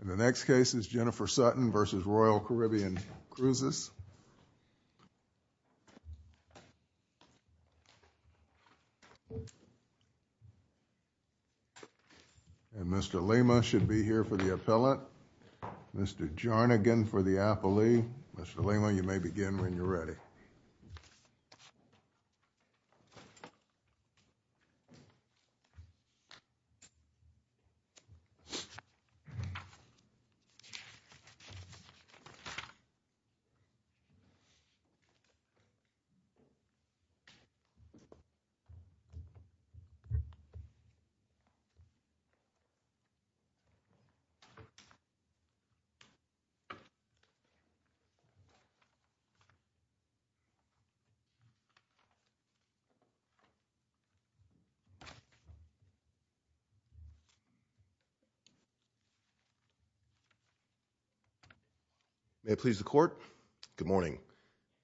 And the next case is Jennifer Sutton v. Royal Caribbean Cruises. And Mr. Lima should be here for the appellate. Mr. Jarnagan for the appellee. Mr. Lima, you may begin when you're ready. May it please the court. Good morning.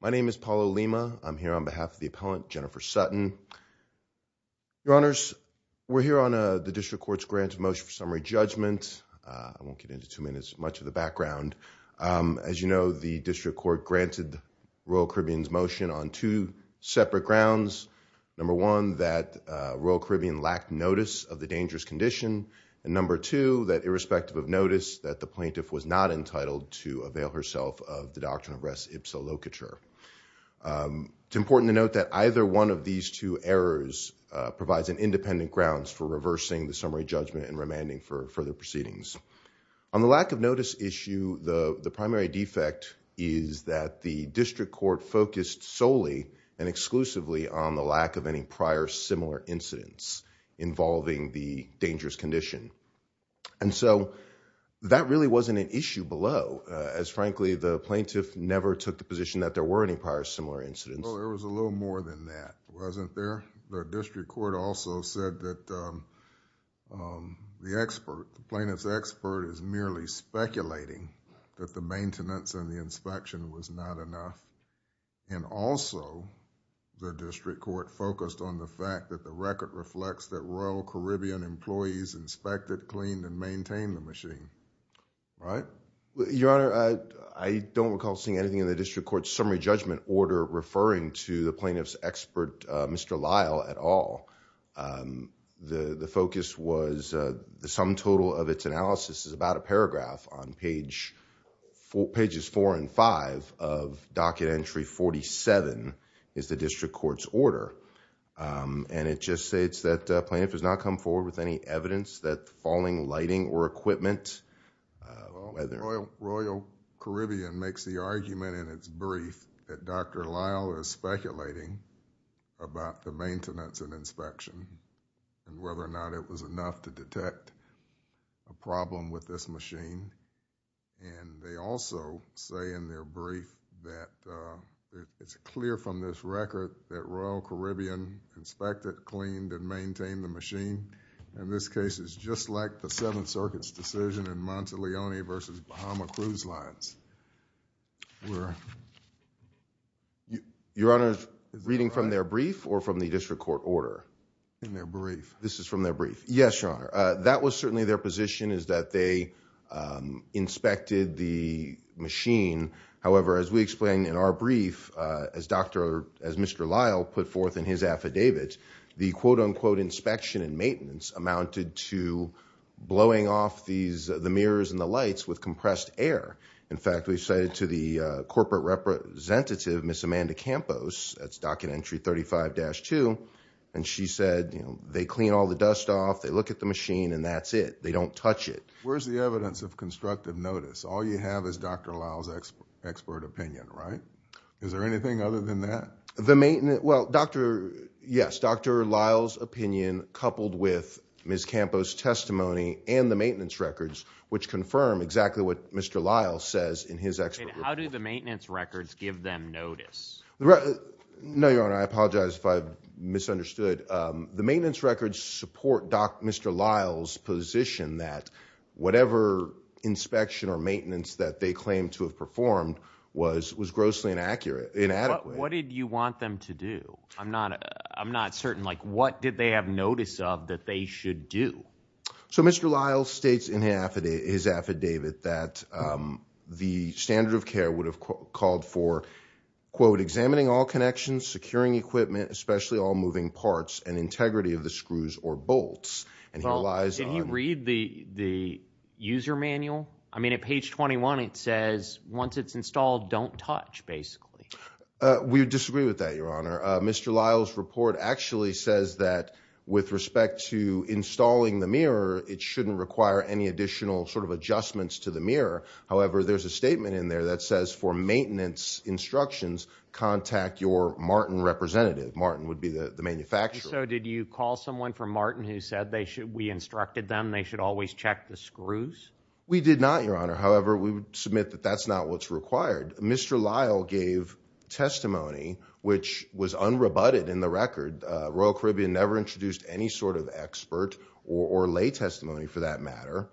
My name is Paulo Lima. I'm here on behalf of the appellant, Jennifer Sutton. Your honors, we're here on the district court's grant motion for summary judgment. I won't get into too much of the background. As you know, the district court granted Royal Caribbean's motion on two separate grounds. Number one, that Royal Caribbean lacked notice of the dangerous condition. And number two, that irrespective of notice, that the plaintiff was not entitled to avail herself of the doctrine of res ipsa locatur. It's important to note that either one of these two errors provides an independent grounds for reversing the summary judgment and remanding for further proceedings. On the lack of notice issue, the primary defect is that the district court focused solely and exclusively on the lack of any prior similar incidents involving the dangerous condition. And so that really wasn't an issue below as frankly, the plaintiff never took the position that there were any prior similar incidents. Well, there was a little more than that, wasn't there? The district court also said that the expert, the plaintiff's expert is merely speculating that the maintenance and the inspection was not enough. And also, the district court focused on the fact that the record reflects that Royal Caribbean employees inspected, cleaned, and maintained the machine, right? Your honor, I don't recall seeing anything in the district court's summary judgment order referring to the plaintiff's expert, Mr. Lyle at all. The focus was the sum total of its analysis is about a paragraph on pages four and five of docket entry 47 is the district court's order. And it just states that plaintiff has not come forward with any evidence that falling lighting or equipment, whether... Dr. Lyle is speculating about the maintenance and inspection and whether or not it was enough to detect a problem with this machine. And they also say in their brief that it's clear from this record that Royal Caribbean inspected, cleaned, and maintained the machine. In this case, it's just like the Seventh Circuit's decision in Monteleone versus Bahama cruise lines. Your honor, reading from their brief or from the district court order? In their brief. This is from their brief. Yes, your honor. That was certainly their position is that they inspected the machine. However, as we explained in our brief, as Mr. Lyle put forth in his affidavit, the quote unquote inspection and maintenance amounted to blowing off the mirrors and the lights with compressed air. In fact, we cited to the corporate representative, Ms. Amanda Campos. That's document entry 35-2. And she said, you know, they clean all the dust off. They look at the machine and that's it. They don't touch it. Where's the evidence of constructive notice? All you have is Dr. Lyle's expert opinion, right? Is there anything other than that? The maintenance... well, Dr.... yes, Dr. Lyle's opinion coupled with Ms. Campos testimony and the maintenance records, which confirm exactly what Mr. Lyle says in his expert report. How do the maintenance records give them notice? No, your honor. I apologize if I've misunderstood. The maintenance records support Dr.... Mr. Lyle's position that whatever inspection or maintenance that they claim to have performed was grossly inaccurate, inadequate. What did you want them to do? I'm not... I'm not certain. Like what did they have notice of that they should do? So Mr. Lyle states in his affidavit that the standard of care would have called for, quote, examining all connections, securing equipment, especially all moving parts, and integrity of the screws or bolts. And here lies... Did he read the user manual? I mean, at page 21, it says once it's installed, don't touch, basically. We disagree with that, your honor. Mr. Lyle's report actually says that with respect to installing the mirror, it shouldn't require any additional sort of adjustments to the mirror. However, there's a statement in there that says for maintenance instructions, contact your Martin representative. Martin would be the manufacturer. So did you call someone from Martin who said they should... we instructed them, they should always check the screws? We did not, your honor. However, we would submit that that's not what's required. Mr. Lyle gave testimony which was unrebutted in the record. Royal Caribbean never introduced any sort of expert or lay testimony for that matter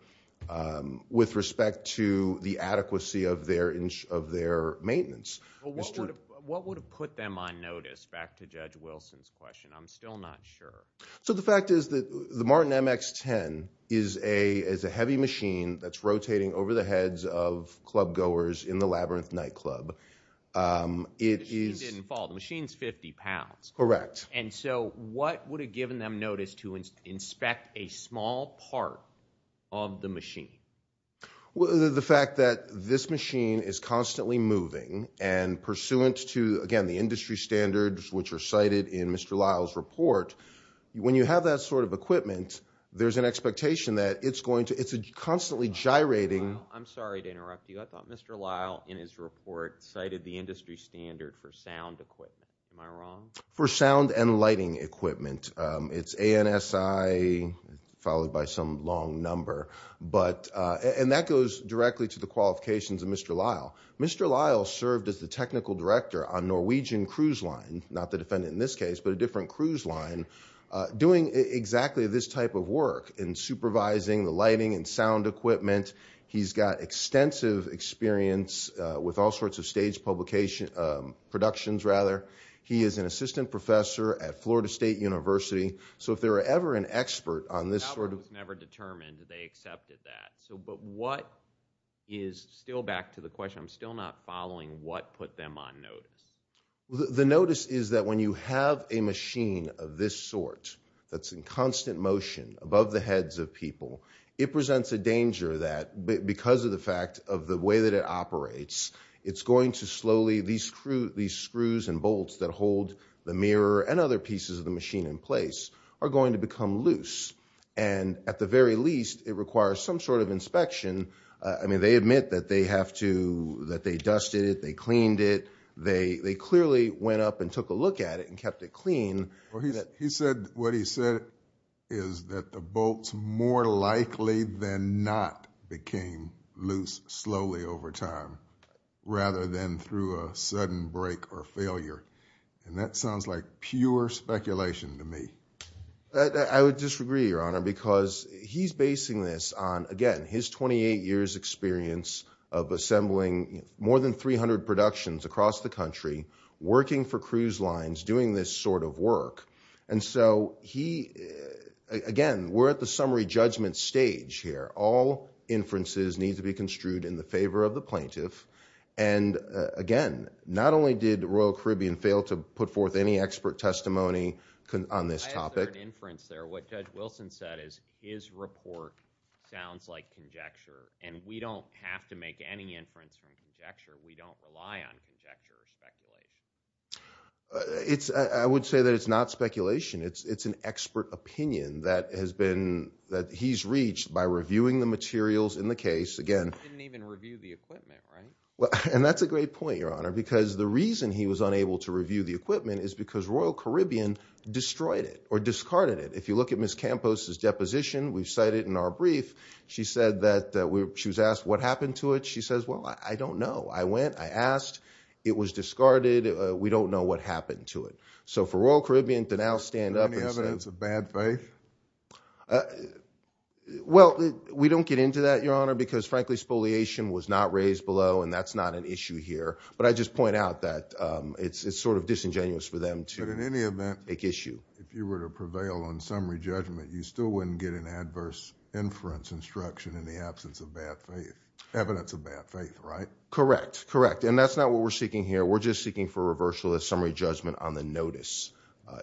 with respect to the adequacy of their maintenance. What would have put them on notice? Back to Judge Wilson's question. I'm still not sure. So the fact is that the Martin MX-10 is a heavy machine that's rotating over the heads of club goers in the Labyrinth Nightclub. It is... The machine didn't fall. The machine's 50 pounds. Correct. And so what would have given them notice to inspect a small part of the machine? The fact that this machine is constantly moving and pursuant to, again, the industry standards which are cited in Mr. Lyle's report, when you have that sort of equipment, there's an expectation that it's going to... I'm sorry to interrupt you. I thought Mr. Lyle in his report cited the industry standard for sound equipment. Am I wrong? For sound and lighting equipment. It's ANSI followed by some long number. And that goes directly to the qualifications of Mr. Lyle. Mr. Lyle served as the technical director on Norwegian Cruise Line, not the defendant in this case, but a different cruise line, doing exactly this type of work in supervising the lighting and sound equipment. He's got extensive experience with all sorts of stage publications, productions rather. He is an assistant professor at Florida State University. So if there were ever an expert on this sort of... The government was never determined. They accepted that. But what is still back to the question, I'm still not following what put them on notice. The notice is that when you have a machine of this sort, that's in constant motion above the heads of people, it presents a danger that because of the fact of the way that it operates, it's going to slowly... These screws and bolts that hold the mirror and other pieces of the machine in place are going to become loose. And at the very least, it requires some sort of inspection. They admit that they have to... That they dusted it. They cleaned it. They clearly went up and took a look at it and kept it clean. He said what he said is that the bolts more likely than not became loose slowly over time, rather than through a sudden break or failure. And that sounds like pure speculation to me. I would disagree, Your Honor, because he's basing this on, again, his 28 years' experience of assembling more than 300 productions across the country, working for cruise lines, doing this sort of work. And so he... Again, we're at the summary judgment stage here. All inferences need to be construed in the favor of the plaintiff. And again, not only did Royal Caribbean fail to put forth any expert testimony on this topic... And we don't have to make any inference from conjecture. We don't rely on conjecture or speculation. I would say that it's not speculation. It's an expert opinion that has been... that he's reached by reviewing the materials in the case. Again... He didn't even review the equipment, right? And that's a great point, Your Honor, because the reason he was unable to review the equipment is because Royal Caribbean destroyed it or discarded it. If you look at Ms. Campos's deposition, we've cited in our brief, she said that... She was asked what happened to it. She says, well, I don't know. I went. I asked. It was discarded. We don't know what happened to it. So for Royal Caribbean to now stand up... Any evidence of bad faith? Well, we don't get into that, Your Honor, because frankly, spoliation was not raised below, and that's not an issue here. But I just point out that it's sort of disingenuous for them to... But in any event...... make issue. If you were to prevail on summary judgment, you still wouldn't get an adverse inference instruction in the absence of bad faith. Evidence of bad faith, right? Correct. Correct. And that's not what we're seeking here. We're just seeking for a reversal of summary judgment on the notice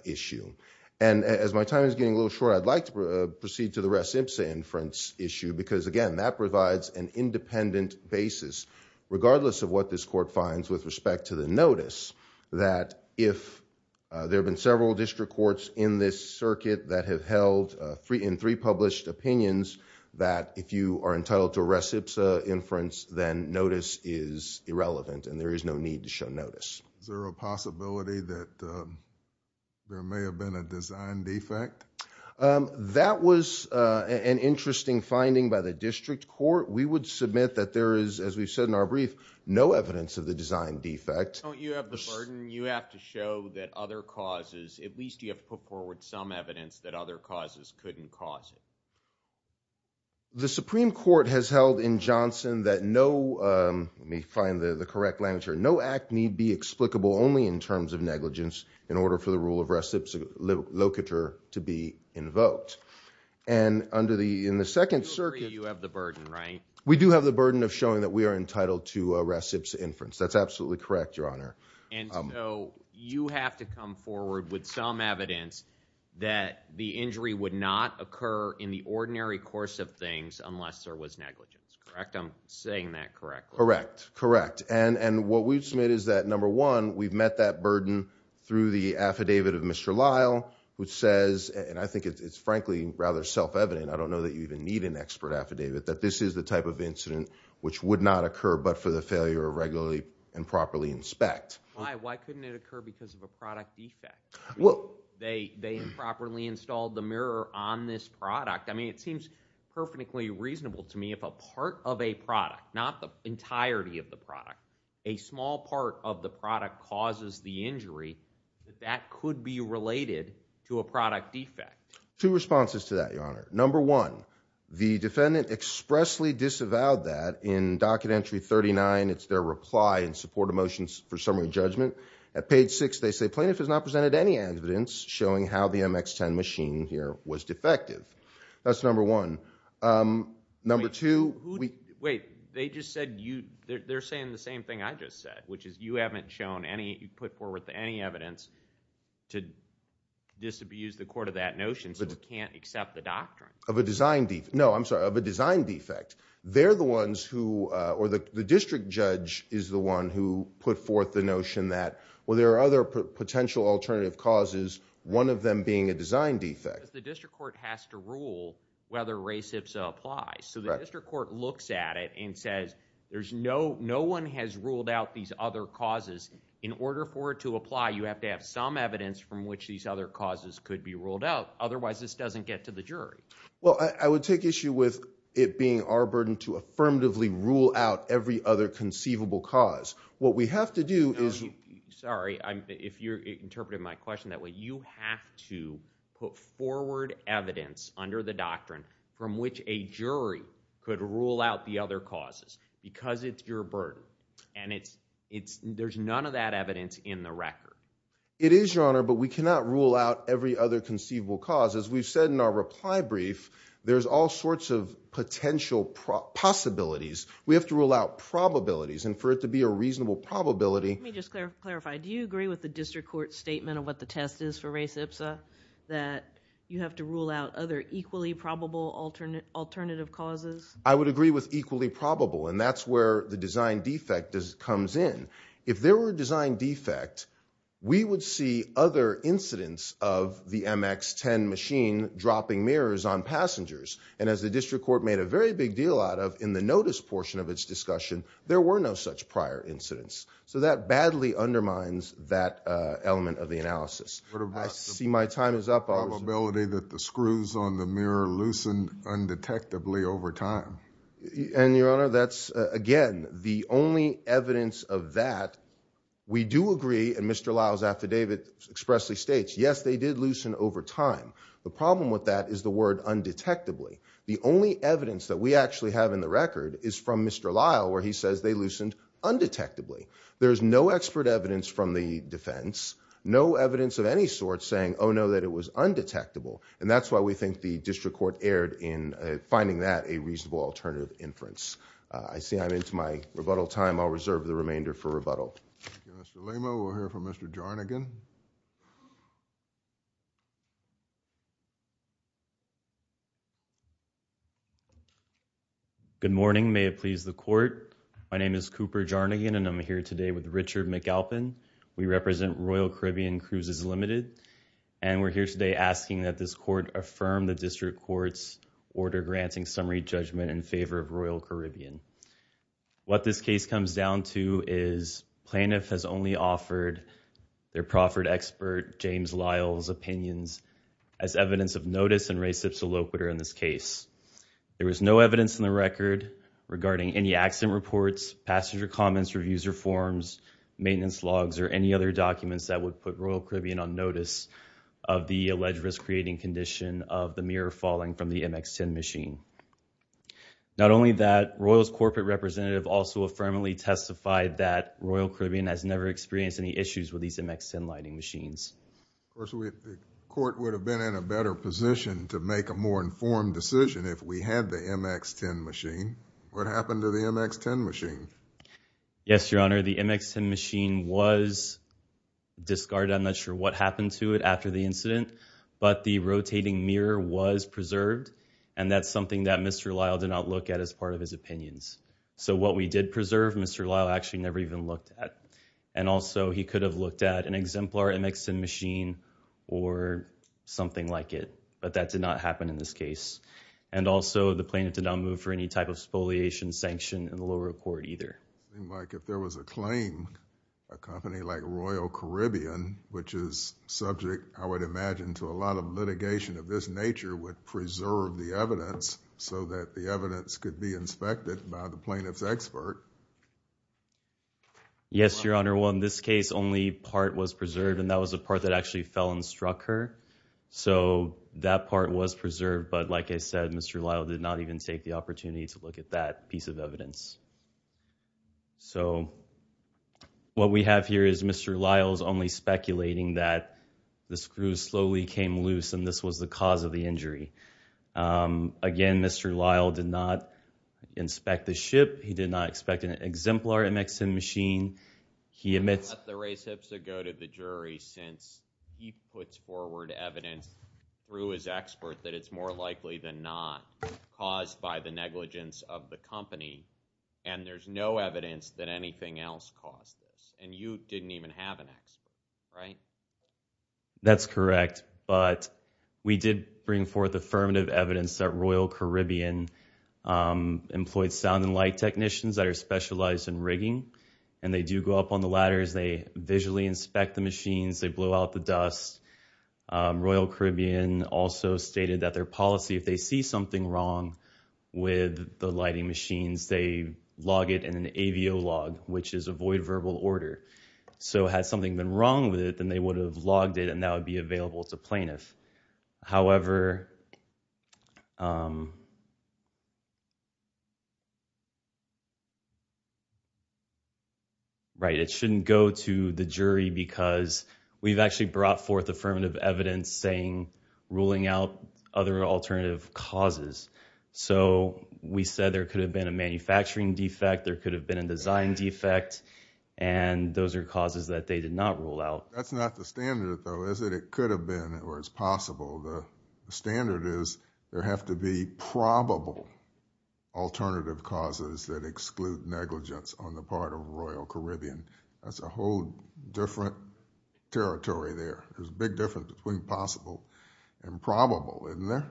issue. And as my time is getting a little short, I'd like to proceed to the Res Impsa inference issue because, again, that provides an independent basis, regardless of what this court finds with respect to the notice, that if there have been several district courts in this circuit that have held in three published opinions that if you are entitled to a Res Impsa inference, then notice is irrelevant and there is no need to show notice. Is there a possibility that there may have been a design defect? That was an interesting finding by the district court. We would submit that there is, as we've said in our brief, no evidence of the design defect. Don't you have the burden? You have to show that other causes, at least you have to put forward some evidence that other causes couldn't cause it. The Supreme Court has held in Johnson that no, let me find the correct language here, no act need be explicable only in terms of negligence in order for the rule of Res Impsa locator to be invoked. And under the, in the second circuit. You have the burden, right? We do have the burden of showing that we are entitled to a Res Impsa inference. That's absolutely correct, Your Honor. And so you have to come forward with some evidence that the injury would not occur in the ordinary course of things unless there was negligence, correct? I'm saying that correct? Correct. Correct. And what we've submitted is that number one, we've met that burden through the affidavit of Mr. Lyle, which says, and I think it's frankly rather self-evident. I don't know that you even need an expert affidavit that this is the type of incident which would not occur, but for the failure of regularly and properly inspect. Why, why couldn't it occur because of a product defect? Well, they, they improperly installed the mirror on this product. I mean, it seems perfectly reasonable to me if a part of a product, not the entirety of the product, a small part of the product causes the injury that could be related to a product defect. Two responses to that, Your Honor. Number one, the defendant expressly disavowed that in docket entry 39. It's their reply in support of motions for summary judgment. At page six, they say plaintiff has not presented any evidence showing how the MX-10 machine here was defective. That's number one. Number two, wait, they just said you, they're saying the same thing I just said, which is you haven't shown any, you put forward any evidence to disabuse the court of that notion so we can't accept the doctrine. Of a design defect. No, I'm sorry, of a design defect. They're the ones who, or the district judge is the one who put forth the notion that, well, there are other potential alternative causes, one of them being a design defect. The district court has to rule whether race HPSA applies. So the district court looks at it and says, there's no, no one has ruled out these other causes. In order for it to apply, you have to have some evidence from which these other causes could be ruled out. Otherwise, this doesn't get to the jury. Well, I would take issue with it being our burden to affirmatively rule out every other conceivable cause. What we have to do is. Sorry, I'm, if you're interpreting my question that way, you have to put forward evidence under the doctrine from which a jury could rule out the other causes because it's your burden and it's, it's, there's none of that evidence in the record. It is your honor, but we cannot rule out every other conceivable cause. As we've said in our reply brief, there's all sorts of potential possibilities. We have to rule out probabilities and for it to be a reasonable probability. Let me just clarify. Do you agree with the district court statement of what the test is for race HPSA that you have to rule out other equally probable alternate alternative causes? I would agree with equally probable. And that's where the design defect does comes in. If there were a design defect, we would see other incidents of the MX 10 machine dropping mirrors on passengers. And as the district court made a very big deal out of in the notice portion of its discussion, there were no such prior incidents. So that badly undermines that element of the analysis. I see my time is up. Probability that the screws on the mirror loosened undetectably over time. And your honor, that's again, the only evidence of that. We do agree. And Mr. Lyle's affidavit expressly states, yes, they did loosen over time. The problem with that is the word undetectably. The only evidence that we actually have in the record is from Mr. Lyle, where he says they loosened undetectably. There is no expert evidence from the defense, no evidence of any sort saying, oh, no, that it was undetectable. And that's why we think the district court erred in finding that a reasonable alternative inference. I see I'm into my rebuttal time. I'll reserve the remainder for rebuttal. Thank you, Mr. Lima. We'll hear from Mr. Jarnigan. Good morning. May it please the court. My name is Cooper Jarnigan, and I'm here today with Richard McAlpin. We represent Royal Caribbean Cruises Limited. And we're here today asking that this court affirm the district court's order granting summary judgment in favor of Royal Caribbean. What this case comes down to is plaintiff has only offered their proffered expert, James Lyle's opinions as evidence of notice and res ipsa loquitur in this case. There was no evidence in the record regarding any accident reports, passenger comments, reviews or forms, maintenance logs, or any other documents that would put Royal Caribbean on notice of the alleged risk-creating condition of the mirror falling from the MX-10 machine. Not only that, Royal's corporate representative also affirmatively testified that Royal Caribbean has never experienced any issues with these MX-10 lighting machines. Of course, the court would have been in a better position to make a more informed decision if we had the MX-10 machine. What happened to the MX-10 machine? Yes, Your Honor. The MX-10 machine was discarded. I'm not sure what happened to it after the incident. But the rotating mirror was preserved. And that's something that Mr. Lyle did not look at as part of his opinions. So what we did preserve, Mr. Lyle actually never even looked at. And also, he could have looked at an exemplar MX-10 machine or something like it. But that did not happen in this case. And also, the plaintiff did not move for any type of spoliation, sanction in the lower court either. It seemed like if there was a claim, a company like Royal Caribbean, which is subject, I would imagine, to a lot of litigation of this nature, would preserve the evidence so that the evidence could be inspected by the plaintiff's expert. Yes, Your Honor. Well, in this case, only part was preserved. And that was the part that actually fell and struck her. So that part was preserved. But like I said, Mr. Lyle did not even take the opportunity to look at that piece of evidence. So what we have here is Mr. Lyle's only speculating that the screws slowly came loose. And this was the cause of the injury. Again, Mr. Lyle did not inspect the ship. He did not expect an exemplar MX-10 machine. He admits... I'm going to let the race hipster go to the jury since he puts forward evidence through his expert that it's more likely than not caused by the negligence of the company. And there's no evidence that anything else caused this. And you didn't even have an expert, right? That's correct. But we did bring forth affirmative evidence that Royal Caribbean employed sound and light technicians that are specialized in rigging. And they do go up on the ladders. They visually inspect the machines. They blow out the dust. Royal Caribbean also stated that their policy, if they see something wrong with the lighting machines, they log it in an AVO log, which is avoid verbal order. So had something been wrong with it, then they would have logged it. And that would be available to plaintiffs. However... Right, it shouldn't go to the jury because we've actually brought forth affirmative evidence saying... ruling out other alternative causes. So we said there could have been a manufacturing defect. There could have been a design defect. And those are causes that they did not rule out. That's not the standard, though, is it? It could have been, or it's possible. The standard is there have to be probable alternative causes that exclude negligence on the part of Royal Caribbean. That's a whole different territory there. There's a big difference between possible and probable, isn't there?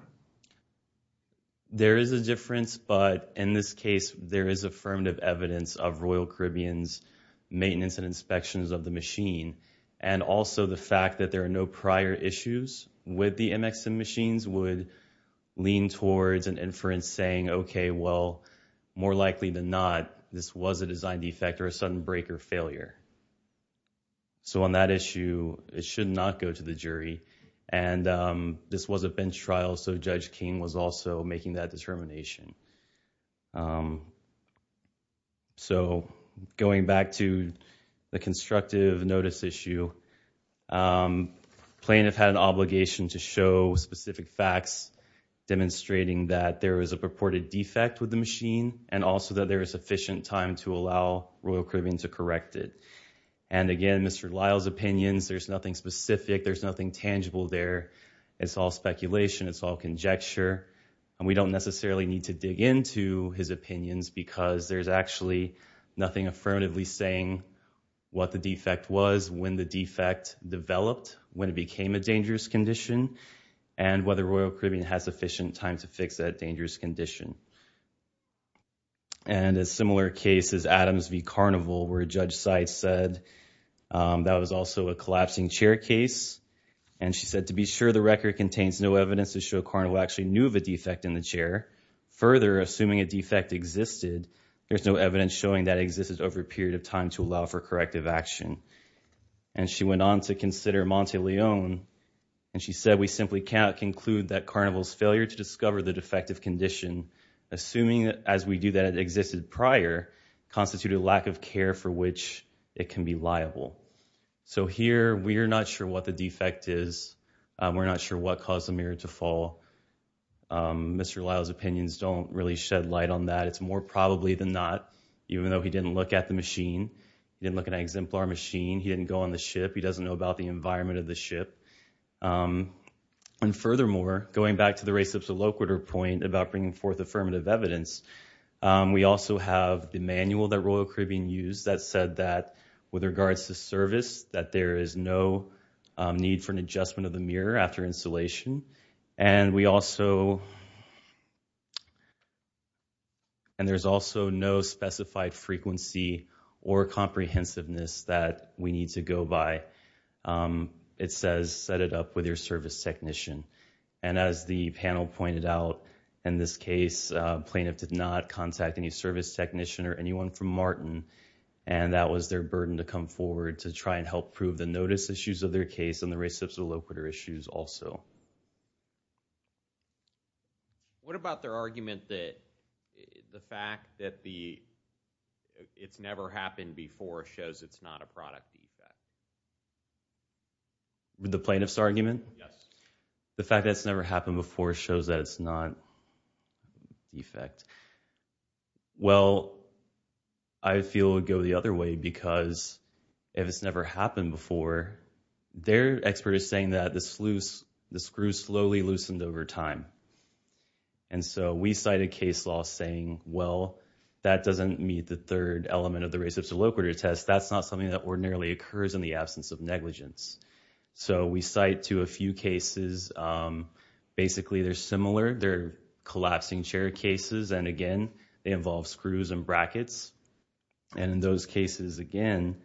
There is a difference, but in this case, there is affirmative evidence of Royal Caribbean's maintenance and inspections of the machine. And also the fact that there are no prior issues with the MXM machines would lean towards an inference saying, OK, well, more likely than not, this was a design defect or a sudden break or failure. So on that issue, it should not go to the jury. And this was a bench trial, so Judge King was also making that determination. So going back to the constructive notice issue, plaintiff had an obligation to show specific facts demonstrating that there is a purported defect with the machine and also that there is sufficient time to allow Royal Caribbean to correct it. And again, Mr. Lyle's opinions, there's nothing specific. There's nothing tangible there. It's all speculation. It's all conjecture. And we don't necessarily need to dig into his opinions because there's actually nothing affirmatively saying what the defect was, when the defect developed, when it became a dangerous condition, and whether Royal Caribbean has sufficient time to fix that dangerous condition. And a similar case is Adams v. Carnival, where Judge Seitz said that was also a collapsing chair case. And she said, to be sure the record contains no evidence to show Carnival actually knew of a defect in the chair. Further, assuming a defect existed, there's no evidence showing that existed over a period of time to allow for corrective action. And she went on to consider Monte Leon. And she said, we simply cannot conclude that Carnival's failure to discover the defective condition, assuming as we do that it existed prior, constituted a lack of care for which it can be liable. So here, we are not sure what the defect is. We're not sure what caused the mirror to fall. Mr. Lyle's opinions don't really shed light on that. It's more probably than not, even though he didn't look at the machine. He didn't look at an exemplar machine. He didn't go on the ship. He doesn't know about the environment of the ship. And furthermore, going back to the race up to Loquiter point about bringing forth affirmative evidence, we also have the manual that Royal Caribbean used that said that with regards to service, that there is no need for an adjustment of the mirror after installation. And we also, and there's also no specified frequency or comprehensiveness that we need to go by. It says, set it up with your service technician. And as the panel pointed out in this case, plaintiff did not contact any service technician or anyone from Martin. And that was their burden to come forward to try and help prove the notice issues of their case and the race up to Loquiter issues also. What about their argument that the fact that it's never happened before shows it's not a product defect? The plaintiff's argument? Yes. The fact that it's never happened before shows that it's not defect. Well, I feel it would go the other way because if it's never happened before, their expert is saying that the screws slowly loosened over time. And so we cite a case law saying, well, that doesn't meet the third element of the race up to Loquiter test. That's not something that ordinarily occurs in the absence of negligence. So we cite to a few cases. Basically, they're similar. They're collapsing chair cases. And again, they involve screws and brackets. And in those cases again,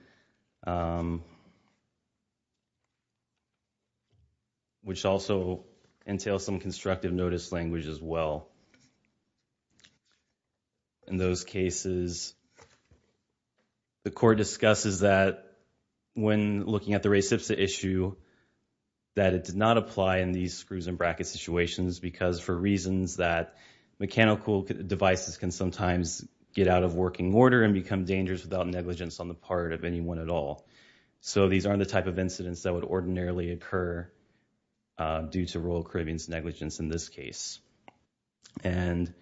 which also entails some constructive notice language as well. In those cases, the court discusses that when looking at the race up to issue, that it did not apply in these screws and brackets situations because for reasons that mechanical devices can sometimes get out of working order and become dangerous without negligence on the part of anyone at all. So these aren't the type of incidents that would ordinarily occur due to Royal Caribbean's negligence in this case. And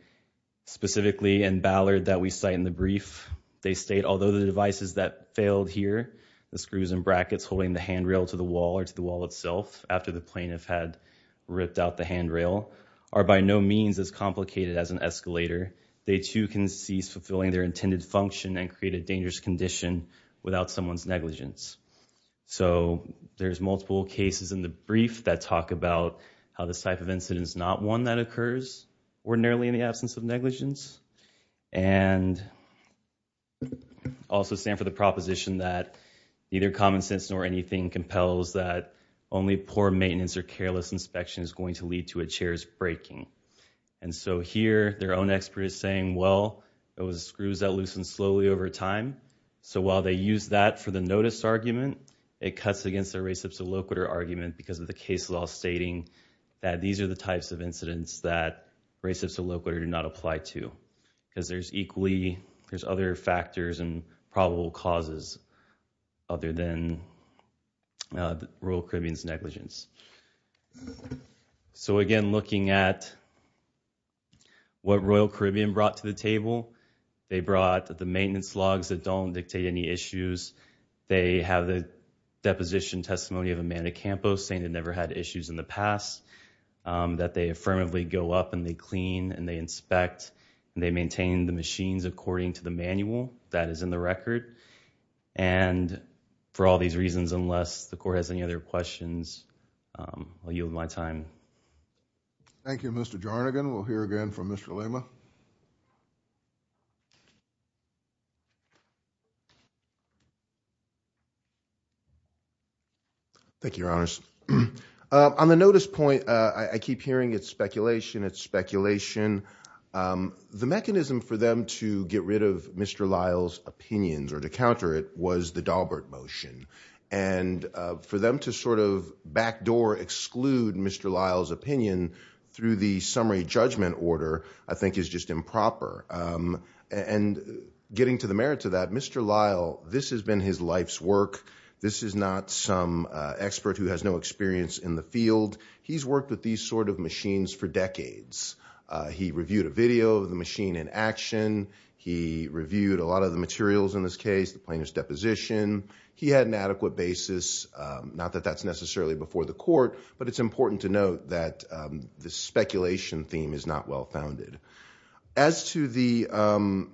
specifically in Ballard that we cite in the brief, they state, although the devices that failed here the screws and brackets holding the handrail to the wall or to the wall itself after the plaintiff had ripped out the handrail are by no means as complicated as an escalator. They too can cease fulfilling their intended function and create a dangerous condition without someone's negligence. So there's multiple cases in the brief that talk about how this type of incident is not one that occurs ordinarily in the absence of negligence. And also stand for the proposition that neither common sense nor anything compels that only poor maintenance or careless inspection is going to lead to a chair's breaking. And so here their own expert is saying, well, it was screws that loosened slowly over time. So while they use that for the notice argument, it cuts against the reciprocity argument because of the case law stating that these are the types of incidents that reciprocity did not apply to. Because there's equally, there's other factors and probable causes other than Royal Caribbean's negligence. So again, looking at what Royal Caribbean brought to the table, they brought the maintenance logs that don't dictate any issues. They have the deposition testimony of Amanda Campos saying they never had issues in the past, that they affirmatively go up and they clean and they inspect and they maintain the machines according to the manual. That is in the record. And for all these reasons, unless the court has any other questions, I'll yield my time. Thank you, Mr. Jarnagan. We'll hear again from Mr. Lima. Thank you, your honors. On the notice point, I keep hearing it's speculation. It's speculation. The mechanism for them to get rid of Mr. Lyle's opinions or to counter it was the Daubert motion. And for them to sort of backdoor, exclude Mr. Lyle's opinion through the summary judgment order, I think is just improper. And getting to the merits of that, Mr. Lyle, this has been his life's work. This is not some expert who has no experience in the field. He's worked with these sort of machines for decades. He reviewed a video of the machine in action. He reviewed a lot of the materials in this case, the plaintiff's deposition. He had an adequate basis. Not that that's necessarily before the court, but it's important to note that the speculation theme is not well-founded. As to the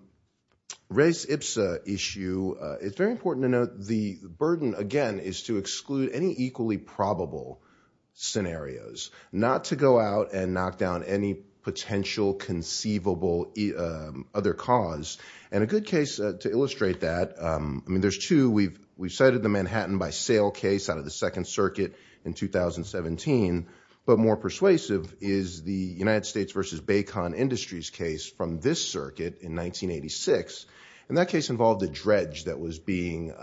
race ipsa issue, it's very important to note the burden again is to exclude any equally probable scenarios, not to go out and knock down any potential conceivable other cause. And a good case to illustrate that, I mean, there's two, we've cited the Manhattan by sale case out of the second circuit in 2017, but more persuasive is the United States versus Baycon Industries case from this circuit in 1986. And that case involved a dredge that was being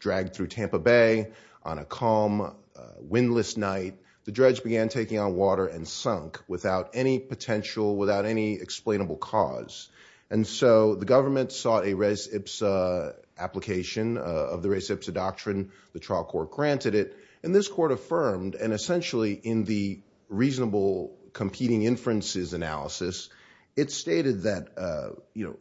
dragged through Tampa Bay on a calm, windless night. The dredge began taking on water and sunk without any potential, without any explainable cause. And so the government sought a race ipsa application of the race ipsa doctrine. The trial court granted it and this court affirmed, and essentially in the reasonable competing inferences analysis, it stated that,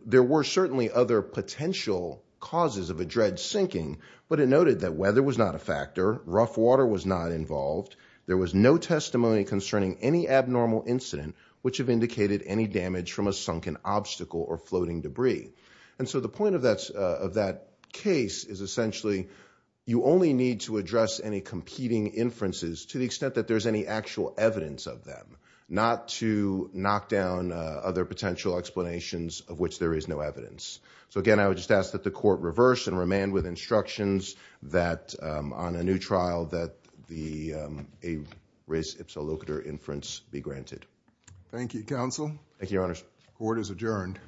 there were certainly other potential causes of a dredge sinking, but it noted that weather was not a factor. Rough water was not involved. There was no testimony concerning any abnormal incident, which have indicated any damage from a sunken obstacle or floating debris. And so the point of that case is essentially you only need to address any competing inferences to the extent that there's any actual evidence of them, not to knock down other potential explanations of which there is no evidence. So again, I would just ask that the court reverse and remand with instructions that on a new trial that the race ipsa locator inference be granted. Thank you, counsel. Thank you, your honors. Court is adjourned.